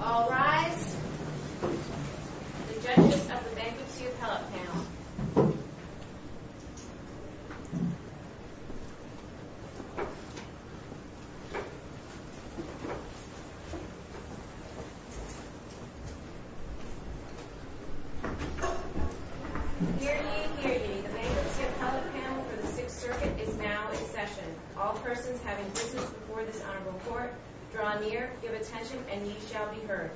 All rise. Hear ye, hear ye. The Bankruptcy Appellate Panel for the Sixth Circuit is now in session. All persons having business before this Honorable Court, draw near, give attention, and ye shall be heard.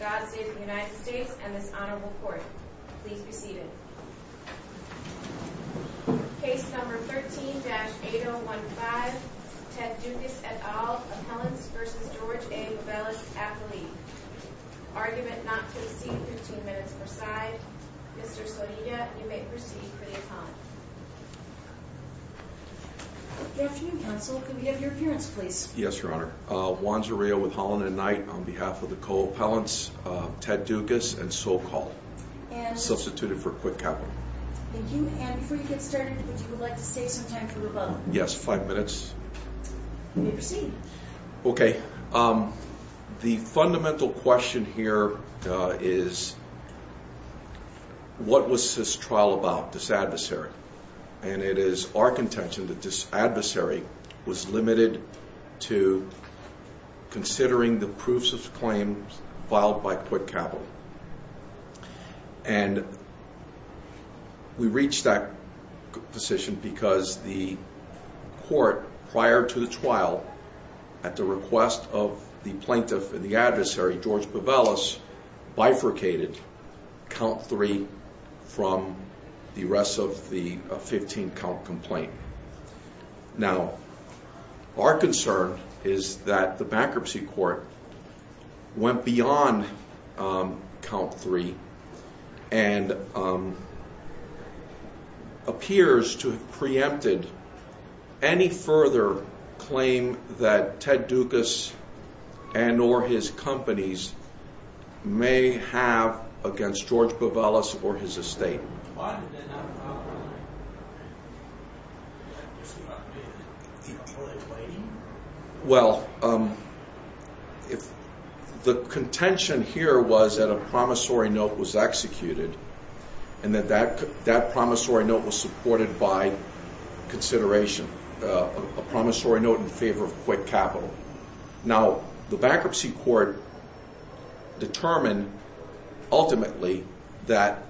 God save the United States and this Honorable Court. Please be seated. Case number 13-8015. Ted Dukas, et al. Appellants vs. George A. Bavelis, athlete. Argument not to be seen. Fifteen minutes per side. Mr. Sorina, you may proceed for the atonement. Good afternoon, Counsel. Can we have your appearance, please? Yes, Your Honor. Juan Zurillo with Holland and Knight on behalf of the co-appellants, Ted Dukas and Sokal. Substituted for quick capital. Thank you. And before you get started, would you like to save some time for rebuttal? Yes. Five minutes. You may proceed. Okay. The fundamental question here is, what was this trial about, this adversary? And it is our contention that this adversary was limited to considering the proofs of claims filed by quick capital. And we reached that decision because the court, prior to the trial, at the request of the plaintiff and the adversary, George Bavelis, bifurcated count three from the rest of the 15-count complaint. Now, our concern is that the bankruptcy court went beyond count three and appears to have preempted any further claim that Ted Dukas and or his companies may have against George Bavelis or his estate. Why did that not happen? Well, the contention here was that a promissory note was executed and that that promissory note was supported by consideration, a promissory note in favor of quick capital. Now, the bankruptcy court determined ultimately that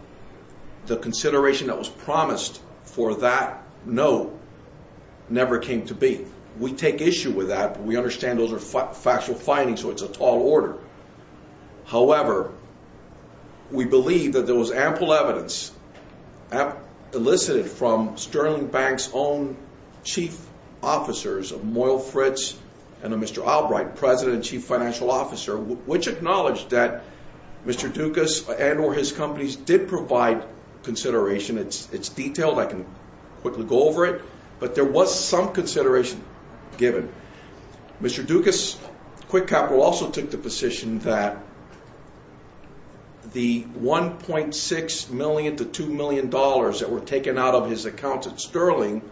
the consideration that was promised for that note never came to be. We take issue with that, but we understand those are factual findings, so it's a tall order. However, we believe that there was ample evidence elicited from Sterling Bank's own chief officers of Moyle Fritz and of Mr. Albright, president and chief financial officer, which acknowledged that Mr. Dukas and or his companies did provide consideration. It's detailed. I can quickly go over it. But there was some consideration given. Mr. Dukas' quick capital also took the position that the $1.6 million to $2 million that were taken out of his account at Sterling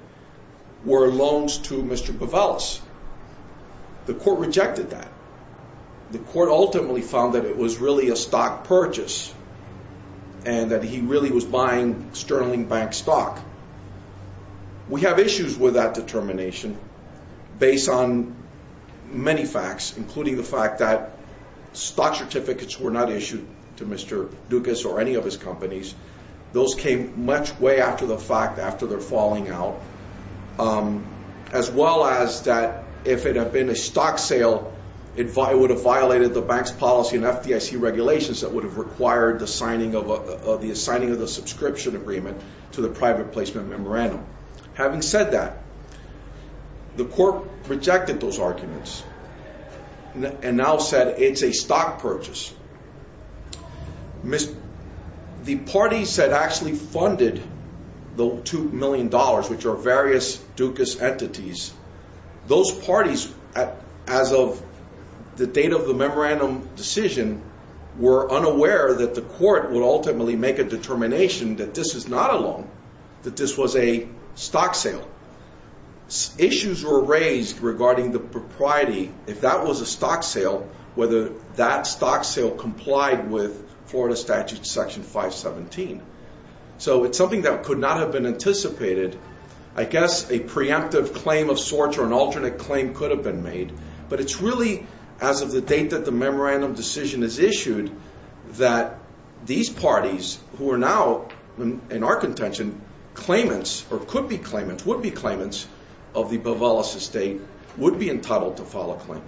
were loans to Mr. Bavelis. The court rejected that. The court ultimately found that it was really a stock purchase and that he really was buying Sterling Bank stock. We have issues with that determination based on many facts, including the fact that stock certificates were not issued to Mr. Dukas or any of his companies. Those came much way after the fact, after their falling out, as well as that if it had been a stock sale, it would have violated the bank's policy and FDIC regulations that would have required the signing of the subscription agreement to the private placement memorandum. Having said that, the court rejected those arguments and now said it's a stock purchase. The parties that actually funded the $2 million, which are various Dukas entities, those parties, as of the date of the memorandum decision, were unaware that the court would ultimately make a determination that this is not a loan, that this was a stock sale. Issues were raised regarding the propriety. If that was a stock sale, whether that stock sale complied with Florida Statute Section 517. So it's something that could not have been anticipated. I guess a preemptive claim of sorts or an alternate claim could have been made. But it's really as of the date that the memorandum decision is issued that these parties, who are now in our contention claimants or could be claimants, would be claimants of the Bovalis estate, would be entitled to file a claim,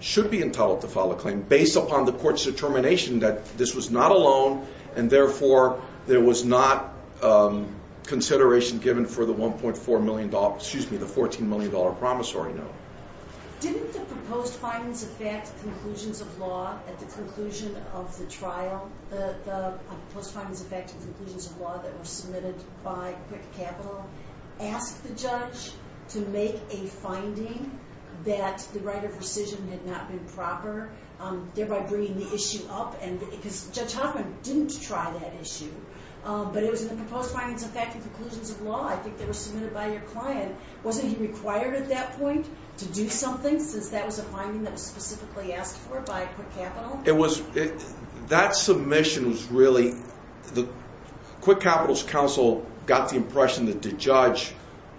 should be entitled to file a claim, based upon the court's determination that this was not a loan and therefore there was not consideration given for the $14 million promissory note. Didn't the proposed findings affect conclusions of law at the conclusion of the trial? The proposed findings affected conclusions of law that were submitted by Quick Capital. Ask the judge to make a finding that the right of rescission had not been proper, thereby bringing the issue up. Because Judge Hoffman didn't try that issue. But it was in the proposed findings affecting conclusions of law. I think they were submitted by your client. Wasn't he required at that point to do something since that was a finding that was specifically asked for by Quick Capital? That submission was really... Quick Capital's counsel got the impression that the judge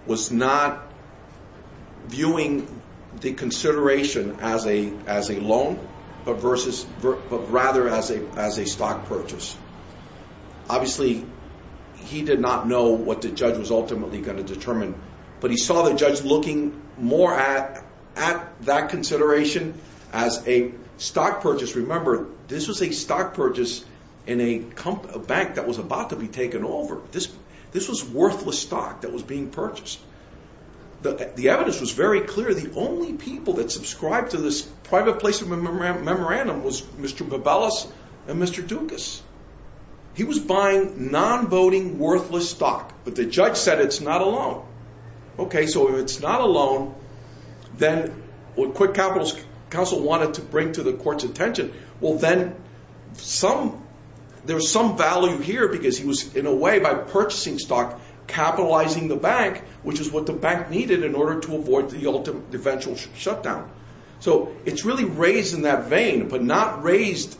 was not viewing the consideration as a loan, but rather as a stock purchase. Obviously, he did not know what the judge was ultimately going to determine. But he saw the judge looking more at that consideration as a stock purchase. Remember, this was a stock purchase in a bank that was about to be taken over. This was worthless stock that was being purchased. The evidence was very clear. The only people that subscribed to this private placement memorandum was Mr. Bobelus and Mr. Dukas. He was buying non-voting, worthless stock. But the judge said it's not a loan. So if it's not a loan, then what Quick Capital's counsel wanted to bring to the court's attention, well, then there's some value here because he was, in a way, by purchasing stock, capitalizing the bank, which is what the bank needed in order to avoid the eventual shutdown. So it's really raised in that vein, but not raised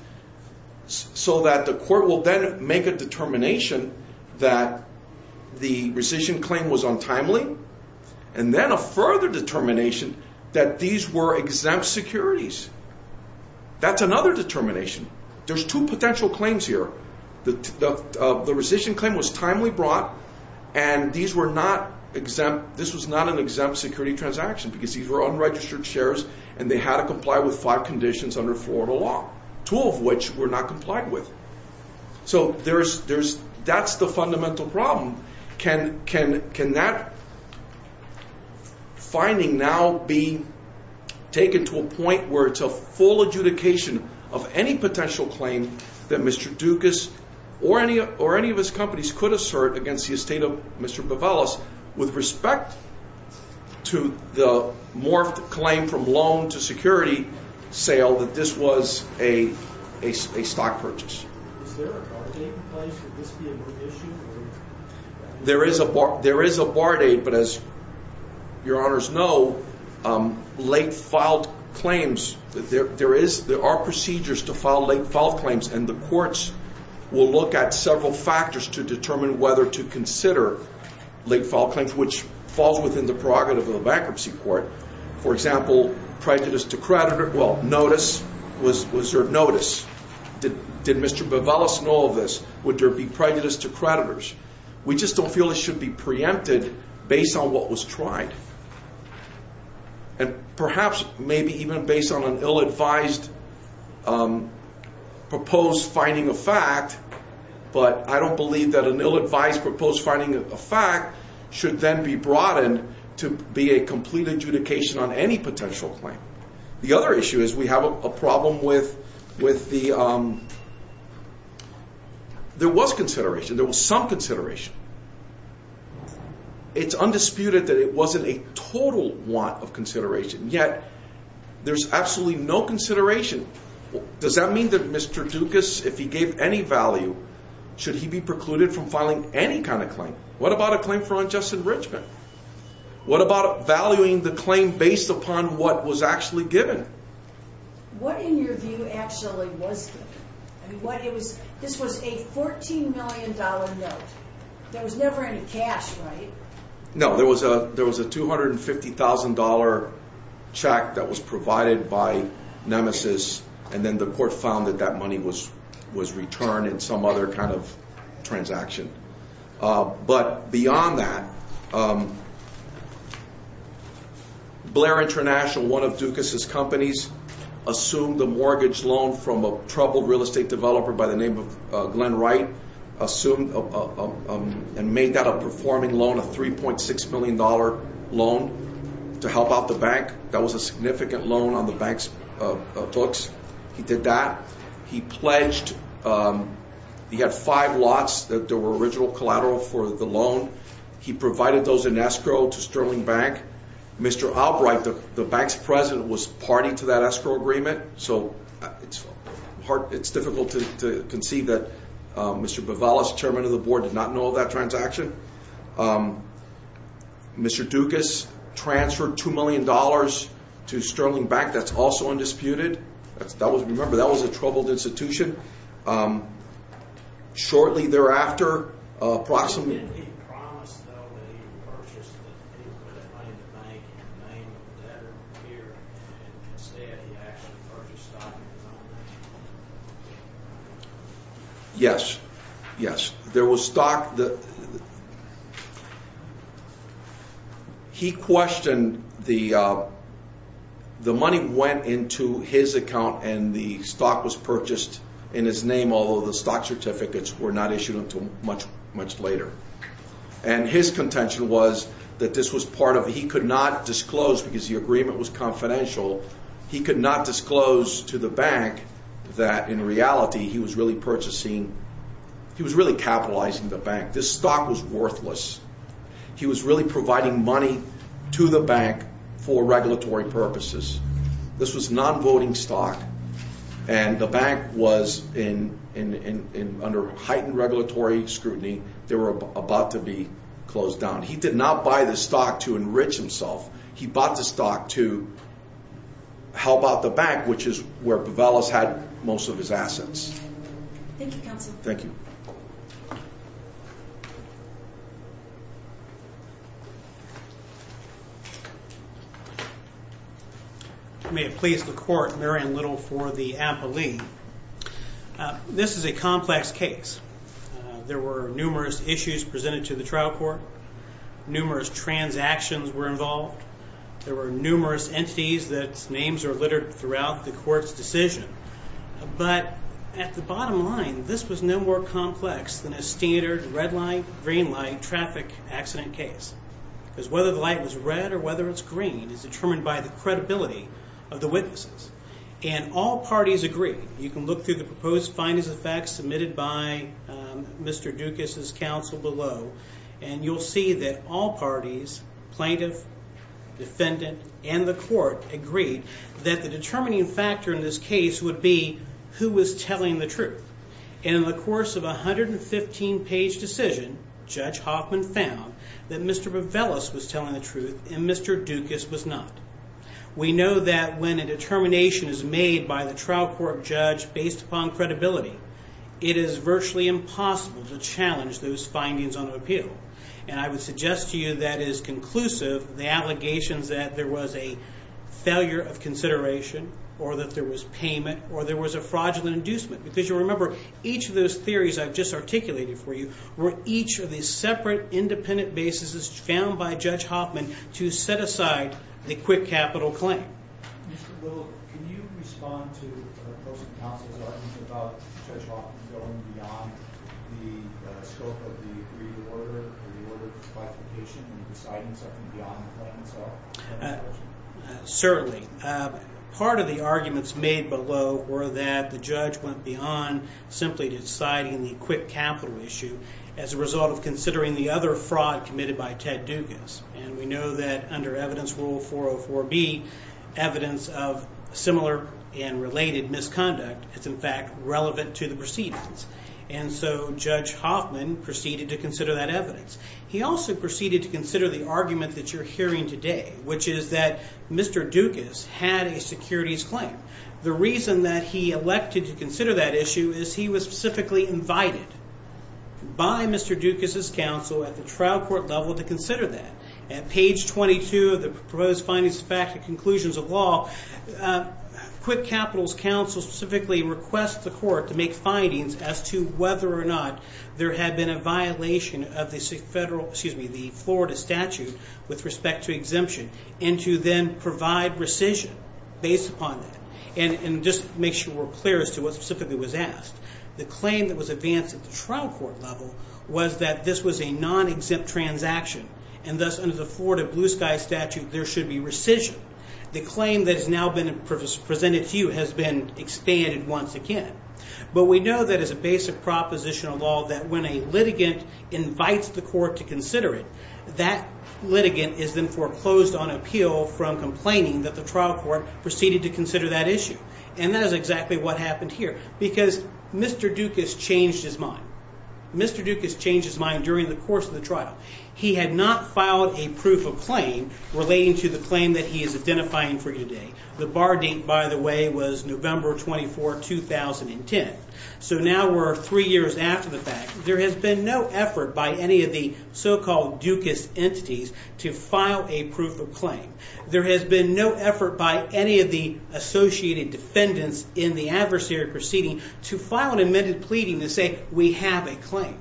so that the court will then make a determination that the rescission claim was untimely, and then a further determination that these were exempt securities. That's another determination. There's two potential claims here. The rescission claim was timely brought, and this was not an exempt security transaction because these were unregistered shares, and they had to comply with five conditions under Florida law, 12 of which were not complied with. So that's the fundamental problem. Can that finding now be taken to a point where it's a full adjudication of any potential claim that Mr. Dukas or any of his companies could assert against the estate of Mr. Bobelus with respect to the morphed claim from loan to security sale that this was a stock purchase? Is there a bar date in place? Would this be a new issue? There is a bar date, but as your honors know, late-filed claims, there are procedures to file late-filed claims, and the courts will look at several factors to determine whether to consider late-filed claims, which falls within the prerogative of a bankruptcy court. For example, prejudice to creditor. Well, notice. Was there notice? Did Mr. Bobelus know of this? Would there be prejudice to creditors? We just don't feel it should be preempted based on what was tried, and perhaps maybe even based on an ill-advised proposed finding of fact, but I don't believe that an ill-advised proposed finding of fact should then be broadened to be a complete adjudication on any potential claim. The other issue is we have a problem with the... There was consideration. There was some consideration. It's undisputed that it wasn't a total want of consideration, yet there's absolutely no consideration. Does that mean that Mr. Dukas, if he gave any value, should he be precluded from filing any kind of claim? What about a claim for unjust enrichment? What about valuing the claim based upon what was actually given? What, in your view, actually was given? This was a $14 million note. There was never any cash, right? No, there was a $250,000 check that was provided by Nemesis, and then the court found that that money was returned in some other kind of transaction. But beyond that, Blair International, one of Dukas' companies, assumed a mortgage loan from a troubled real estate developer by the name of Glenn Wright and made that a performing loan, a $3.6 million loan to help out the bank. That was a significant loan on the bank's books. He did that. He pledged. He had five lots that were original collateral for the loan. He provided those in escrow to Sterling Bank. Mr. Albright, the bank's president, was party to that escrow agreement, so it's difficult to conceive that Mr. Bivalas, chairman of the board, did not know of that transaction. Mr. Dukas transferred $2 million to Sterling Bank. That's also undisputed. Remember, that was a troubled institution. Shortly thereafter, approximately— Didn't he promise, though, that he would purchase the bank in the name of the debtor here, and instead he actually purchased stock in his own name? Yes, yes. There was stock that— He questioned the— The money went into his account, and the stock was purchased in his name, although the stock certificates were not issued until much later. And his contention was that this was part of— He could not disclose, because the agreement was confidential, he could not disclose to the bank that, in reality, he was really purchasing— capitalizing the bank. This stock was worthless. He was really providing money to the bank for regulatory purposes. This was non-voting stock, and the bank was, under heightened regulatory scrutiny, they were about to be closed down. He did not buy the stock to enrich himself. He bought the stock to help out the bank, which is where Bivalas had most of his assets. Thank you, counsel. Thank you. May it please the court, Marion Little for the appellee. This is a complex case. There were numerous issues presented to the trial court. Numerous transactions were involved. There were numerous entities whose names are littered throughout the court's decision. But at the bottom line, this was no more complex than a standard red light, green light traffic accident case. Because whether the light was red or whether it's green is determined by the credibility of the witnesses. And all parties agreed. You can look through the proposed findings of the facts submitted by Mr. Dukas' counsel below, and you'll see that all parties— plaintiff, defendant, and the court— that the determining factor in this case would be who was telling the truth. And in the course of a 115-page decision, Judge Hoffman found that Mr. Bivalas was telling the truth and Mr. Dukas was not. We know that when a determination is made by the trial court judge based upon credibility, it is virtually impossible to challenge those findings on appeal. And I would suggest to you that is conclusive the allegations that there was a failure of consideration or that there was payment or there was a fraudulent inducement. Because you'll remember, each of those theories I've just articulated for you were each of these separate independent bases found by Judge Hoffman to set aside the quick capital claim. Mr. Little, can you respond to the proposed counsel's argument about Judge Hoffman going beyond the scope of the agreed order and deciding something beyond the claim itself? Certainly. Part of the arguments made below were that the judge went beyond simply deciding the quick capital issue as a result of considering the other fraud committed by Ted Dukas. And we know that under Evidence Rule 404B, evidence of similar and related misconduct is in fact relevant to the proceedings. And so Judge Hoffman proceeded to consider that evidence. He also proceeded to consider the argument that you're hearing today, which is that Mr. Dukas had a securities claim. The reason that he elected to consider that issue is he was specifically invited by Mr. Dukas' counsel at the trial court level to consider that. At page 22 of the proposed findings of fact and conclusions of law, quick capital's counsel specifically requests the court to make findings as to whether or not there had been a violation of the Florida statute with respect to exemption and to then provide rescission based upon that and just make sure we're clear as to what specifically was asked. The claim that was advanced at the trial court level was that this was a non-exempt transaction and thus under the Florida Blue Sky statute there should be rescission. The claim that has now been presented to you has been expanded once again. But we know that as a basic proposition of law that when a litigant invites the court to consider it, that litigant is then foreclosed on appeal from complaining that the trial court proceeded to consider that issue. And that is exactly what happened here because Mr. Dukas changed his mind. Mr. Dukas changed his mind during the course of the trial. He had not filed a proof of claim relating to the claim that he is identifying for you today. The bar date, by the way, was November 24, 2010. So now we're three years after the fact. There has been no effort by any of the so-called Dukas entities to file a proof of claim. There has been no effort by any of the associated defendants in the adversary proceeding to file an amended pleading to say we have a claim.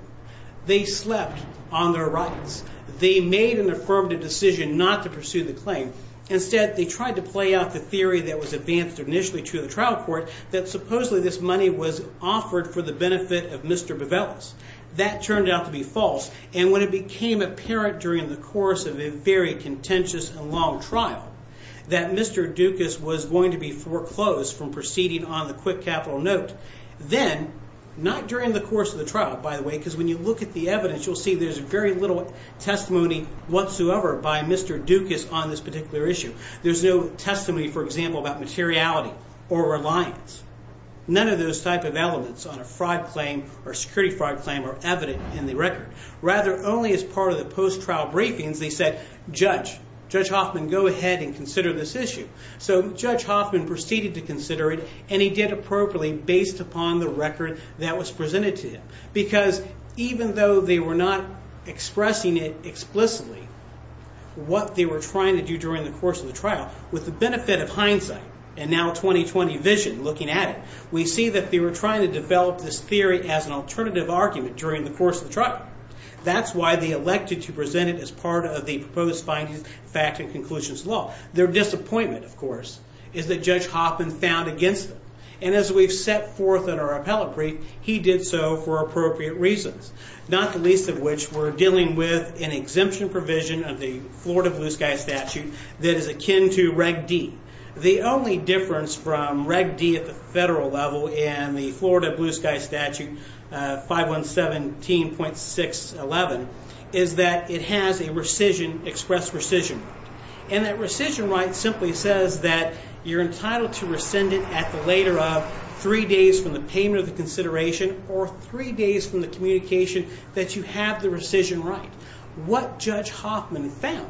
They slept on their rights. They made an affirmative decision not to pursue the claim. Instead, they tried to play out the theory that was advanced initially to the trial court that supposedly this money was offered for the benefit of Mr. Bevelis. That turned out to be false. And when it became apparent during the course of a very contentious and long trial that Mr. Dukas was going to be foreclosed from proceeding on the quick capital note, then, not during the course of the trial, by the way, because when you look at the evidence, you'll see there's very little testimony whatsoever by Mr. Dukas on this particular issue. There's no testimony, for example, about materiality or reliance. None of those type of elements on a fraud claim or security fraud claim are evident in the record. Rather, only as part of the post-trial briefings, they said, Judge, Judge Hoffman, go ahead and consider this issue. So Judge Hoffman proceeded to consider it, and he did appropriately based upon the record that was presented to him because even though they were not expressing it explicitly, what they were trying to do during the course of the trial, with the benefit of hindsight and now 20-20 vision looking at it, we see that they were trying to develop this theory as an alternative argument during the course of the trial. That's why they elected to present it as part of the proposed findings, fact, and conclusions law. Their disappointment, of course, is that Judge Hoffman found against them. And as we've set forth in our appellate brief, he did so for appropriate reasons, not the least of which were dealing with an exemption provision of the Florida Blue Sky Statute that is akin to Reg D. The only difference from Reg D at the federal level and the Florida Blue Sky Statute 517.611 is that it has a rescission, express rescission. And that rescission right simply says that you're entitled to rescind it at the later of three days from the payment of the consideration or three days from the communication that you have the rescission right. What Judge Hoffman found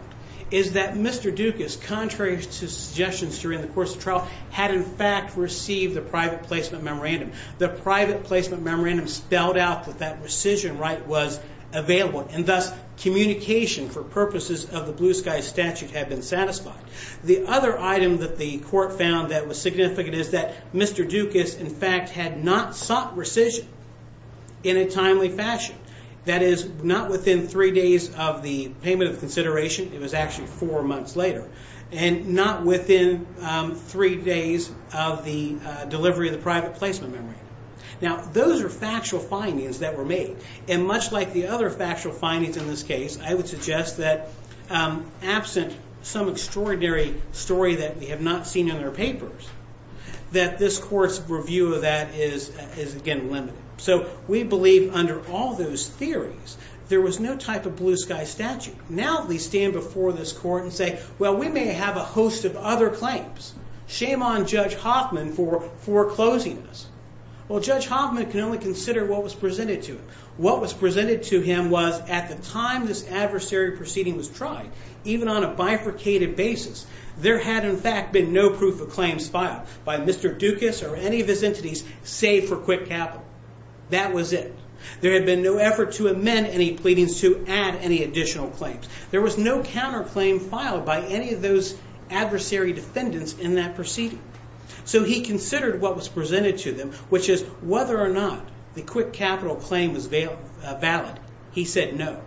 is that Mr. Dukas, contrary to suggestions during the course of the trial, had in fact received the private placement memorandum. The private placement memorandum spelled out that that rescission right was available and thus communication for purposes of the Blue Sky Statute had been satisfied. The other item that the court found that was significant is that Mr. Dukas in fact had not sought rescission in a timely fashion. That is not within three days of the payment of consideration, it was actually four months later, and not within three days of the delivery of the private placement memorandum. Now those are factual findings that were made. And much like the other factual findings in this case, I would suggest that absent some extraordinary story that we have not seen in our papers, that this court's review of that is, again, limited. So we believe under all those theories there was no type of Blue Sky Statute. Now they stand before this court and say, well, we may have a host of other claims. Shame on Judge Hoffman for foreclosing this. Well, Judge Hoffman can only consider what was presented to him. What was presented to him was at the time this adversary proceeding was tried, even on a bifurcated basis, there had in fact been no proof of claims filed by Mr. Dukas or any of his entities save for Quick Capital. That was it. There had been no effort to amend any pleadings to add any additional claims. There was no counterclaim filed by any of those adversary defendants in that proceeding. So he considered what was presented to them, which is whether or not the Quick Capital claim was valid. He said no.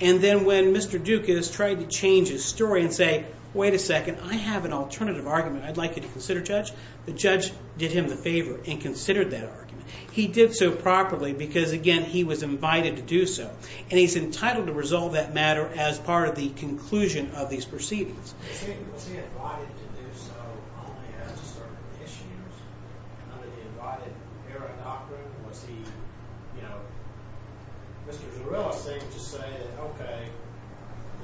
And then when Mr. Dukas tried to change his story and say, wait a second, I have an alternative argument I'd like you to consider, Judge, the judge did him the favor and considered that argument. He did so properly because, again, he was invited to do so. And he's entitled to resolve that matter as part of the conclusion of these proceedings. Was he invited to do so only as a sort of issue? Under the invited era doctrine, was he, you know, Mr. Zarrella seemed to say that, okay,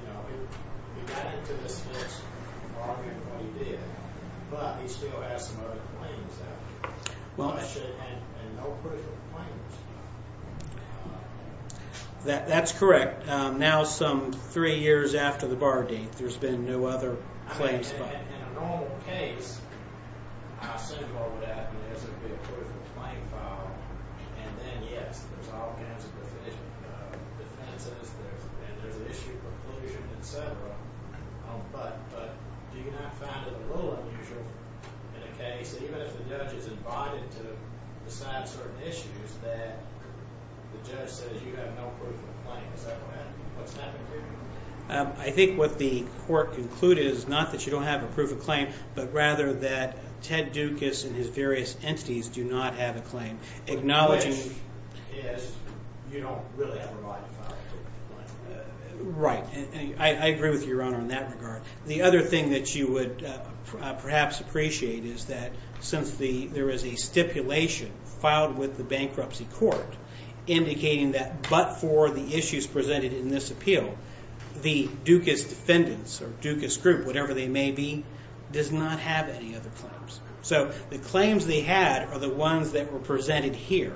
you know, he got into the Smith's bargain, well, he did, but he still has some other claims, actually, and no proof of claims. That's correct. Now some three years after the bargain, there's been no other claims filed. In a normal case, I assume what would happen is there would be a proof of claim filed, and then, yes, there's all kinds of defenses, and there's an issue of preclusion, et cetera. But do you not find it a little unusual in a case, even if the judge is invited to decide certain issues, that the judge says you have no proof of claim? Is that what's happening here? I think what the court concluded is not that you don't have a proof of claim, but rather that Ted Dukas and his various entities do not have a claim, acknowledging... Which is you don't really have a right to file a proof of claim. Right. I agree with you, Your Honor, in that regard. The other thing that you would perhaps appreciate is that since there is a stipulation filed with the bankruptcy court indicating that but for the issues presented in this appeal, the Dukas defendants or Dukas group, whatever they may be, does not have any other claims. So the claims they had are the ones that were presented here.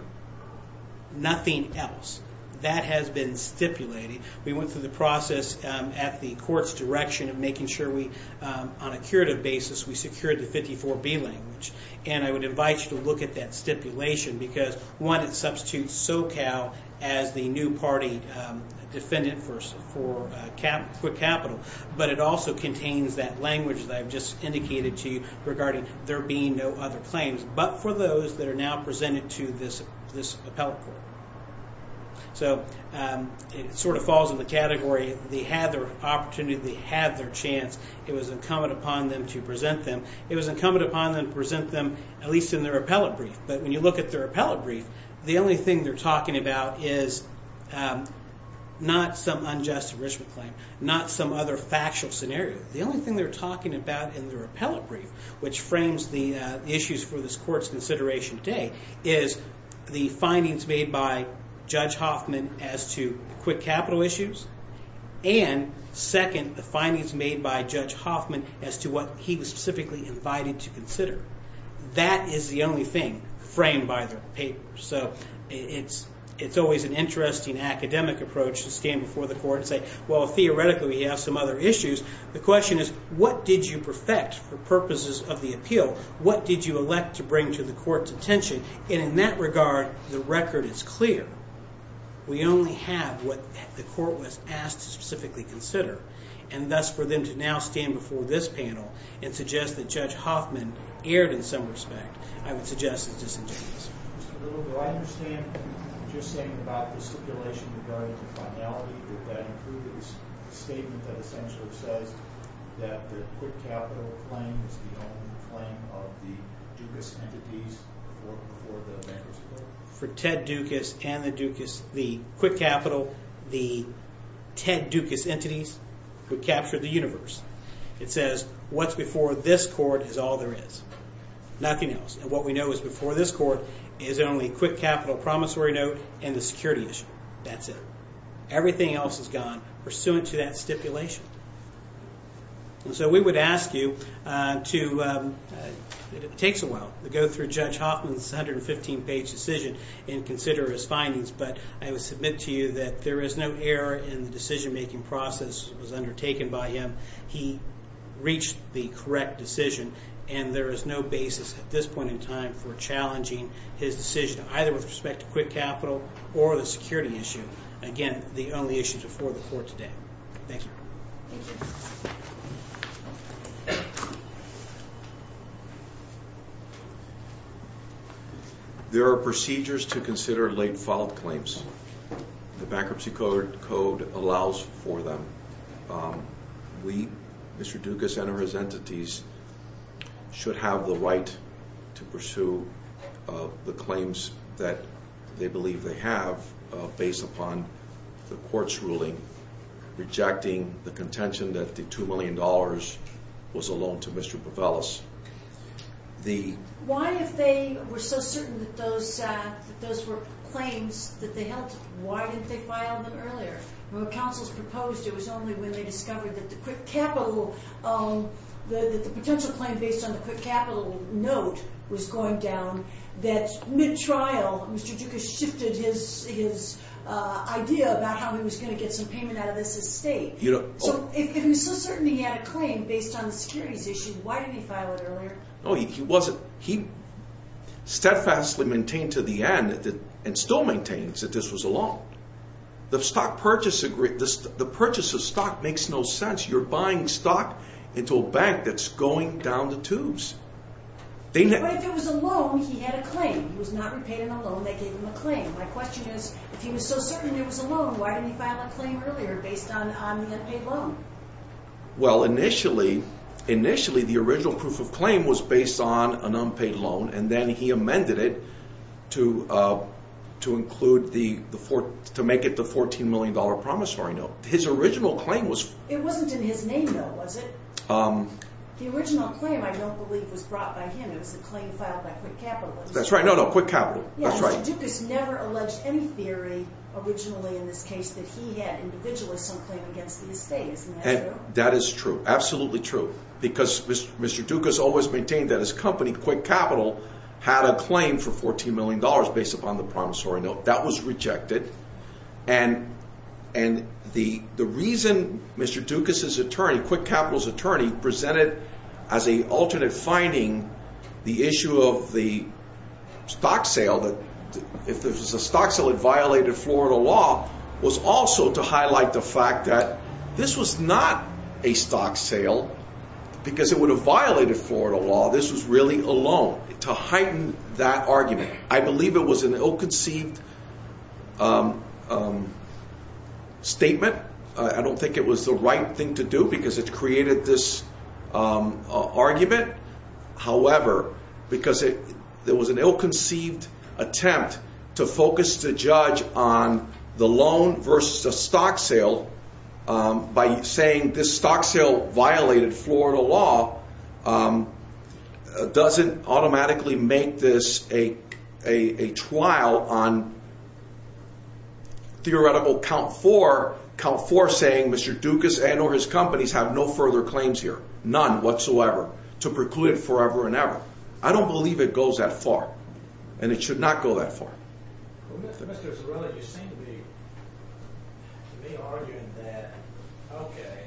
Nothing else. That has been stipulated. We went through the process at the court's direction of making sure we, on a curative basis, we secured the 54B language. And I would invite you to look at that stipulation because, one, it substitutes SoCal as the new party defendant for Quick Capital, but it also contains that language that I've just indicated to you regarding there being no other claims but for those that are now presented to this appellate court. So it sort of falls in the category they had their opportunity, they had their chance. It was incumbent upon them to present them. It was incumbent upon them to present them at least in their appellate brief. But when you look at their appellate brief, the only thing they're talking about is not some unjust enrichment claim, not some other factual scenario. The only thing they're talking about in their appellate brief, which frames the issues for this court's consideration today, is the findings made by Judge Hoffman as to Quick Capital issues and, second, the findings made by Judge Hoffman as to what he was specifically invited to consider. That is the only thing framed by the paper. So it's always an interesting academic approach to stand before the court and say, well, theoretically, we have some other issues. The question is, what did you perfect for purposes of the appeal? What did you elect to bring to the court's attention? And in that regard, the record is clear. We only have what the court was asked to specifically consider. And thus for them to now stand before this panel and suggest that Judge Hoffman erred in some respect, I would suggest is disingenuous. For Ted Dukas and the Dukas... The Quick Capital, the Ted Dukas entities, would capture the universe. It says, what's before this court is all there is. Nothing else. And what we know is before this court is only Quick Capital promissory note and the security issue. That's it. Everything else is gone pursuant to that stipulation. And so we would ask you to... It takes a while to go through Judge Hoffman's 115-page decision and consider his findings, but I would submit to you that there is no error in the decision-making process that was undertaken by him He reached the correct decision, and there is no basis at this point in time for challenging his decision either with respect to Quick Capital or the security issue. Again, the only issues before the court today. Thank you. Thank you. There are procedures to consider late-filed claims. The Bankruptcy Code allows for them. We, Mr. Dukas and his entities, should have the right to pursue the claims that they believe they have based upon the court's ruling rejecting the contention that the $2 million was a loan to Mr. Pavelis. Why, if they were so certain that those were claims that they held, why didn't they file them earlier? When counsels proposed, it was only when they discovered that the potential claim based on the Quick Capital note was going down that, mid-trial, Mr. Dukas shifted his idea about how he was going to get some payment out of this estate. So, if he was so certain he had a claim based on the securities issue, why didn't he file it earlier? He steadfastly maintained to the end and still maintains that this was a loan. The purchase of stock makes no sense. You're buying stock into a bank that's going down the tubes. But if it was a loan, he had a claim. He was not repaid in a loan that gave him a claim. My question is, if he was so certain it was a loan, why didn't he file a claim earlier based on the unpaid loan? Well, initially, the original proof of claim was based on an unpaid loan and then he amended it to make it the $14 million promissory note. His original claim was... It wasn't in his name, though, was it? The original claim, I don't believe, was brought by him. It was a claim filed by Quick Capital. That's right. No, no. Quick Capital. That's right. Mr. Dukas never alleged any theory, originally, in this case, that he had individualized some claim against the estate. Isn't that true? That is true. Absolutely true. Because Mr. Dukas always maintained that his company, Quick Capital, had a claim for $14 million based upon the promissory note. That was rejected. And the reason Mr. Dukas' attorney, Quick Capital's attorney, presented as an alternate finding the issue of the stock sale, that if it was a stock sale, it violated Florida law, was also to highlight the fact that this was not a stock sale. Because it would have violated Florida law. This was really a loan. To heighten that argument. I believe it was an ill-conceived statement. I don't think it was the right thing to do because it created this argument. However, because it was an ill-conceived attempt to focus the judge on the loan versus the stock sale, by saying this stock sale violated Florida law, doesn't automatically make this a trial on theoretical count for saying Mr. Dukas and or his companies have no further claims here. None whatsoever. To preclude it forever and ever. I don't believe it goes that far. And it should not go that far. Well, Mr. Zarelli, you seem to be, to me, arguing that, okay,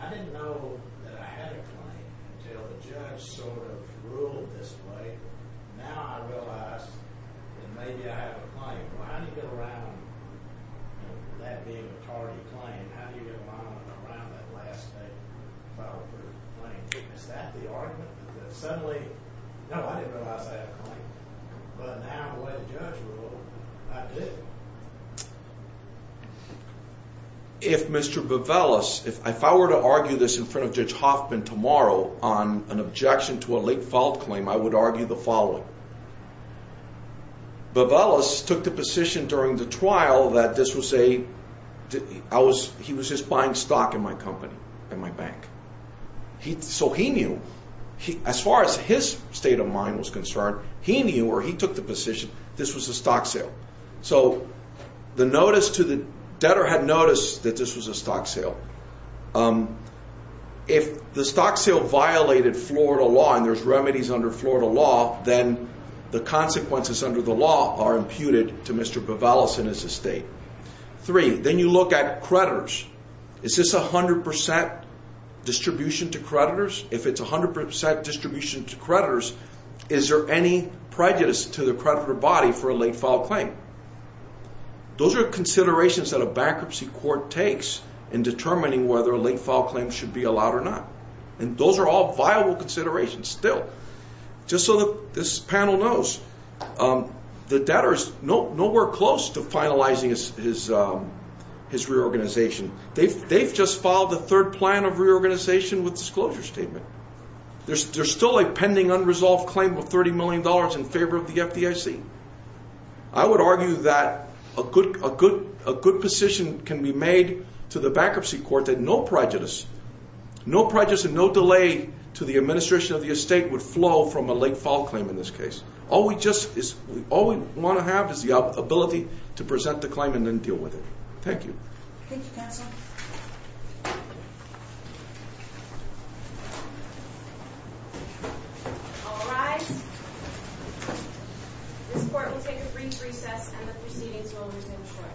I didn't know that I had a claim until the judge sort of ruled this way. Now I realize that maybe I have a claim. Well, how do you get around that being a tardy claim? How do you get around that last claim? Is that the argument? But now, when the judge ruled, I did. If Mr. Bevelis, if I were to argue this in front of Judge Hoffman tomorrow on an objection to a late filed claim, I would argue the following. Bevelis took the position during the trial that this was a, he was just buying stock in my company, in my bank. So he knew. As far as his state of mind was concerned, he knew, or he took the position, this was a stock sale. So the notice to the debtor had noticed that this was a stock sale. If the stock sale violated Florida law and there's remedies under Florida law, then the consequences under the law are imputed to Mr. Bevelis and his estate. Three, then you look at creditors. Is this 100% distribution to creditors? If it's 100% distribution to creditors, is there any prejudice to the creditor body for a late filed claim? Those are considerations that a bankruptcy court takes in determining whether a late filed claim should be allowed or not. And those are all viable considerations still. Just so that this panel knows, the debtor is nowhere close to finalizing his reorganization. They've just filed the third plan of reorganization with disclosure statement. There's still a pending unresolved claim of $30 million in favor of the FDIC. I would argue that a good position can be made to the bankruptcy court that no prejudice, no prejudice and no delay to the administration of the estate would flow from a late filed claim in this case. All we want to have is the ability to present the claim and then deal with it. Thank you. Thank you, counsel. All rise. This court will take a brief recess and the proceedings will resume shortly. Thank you.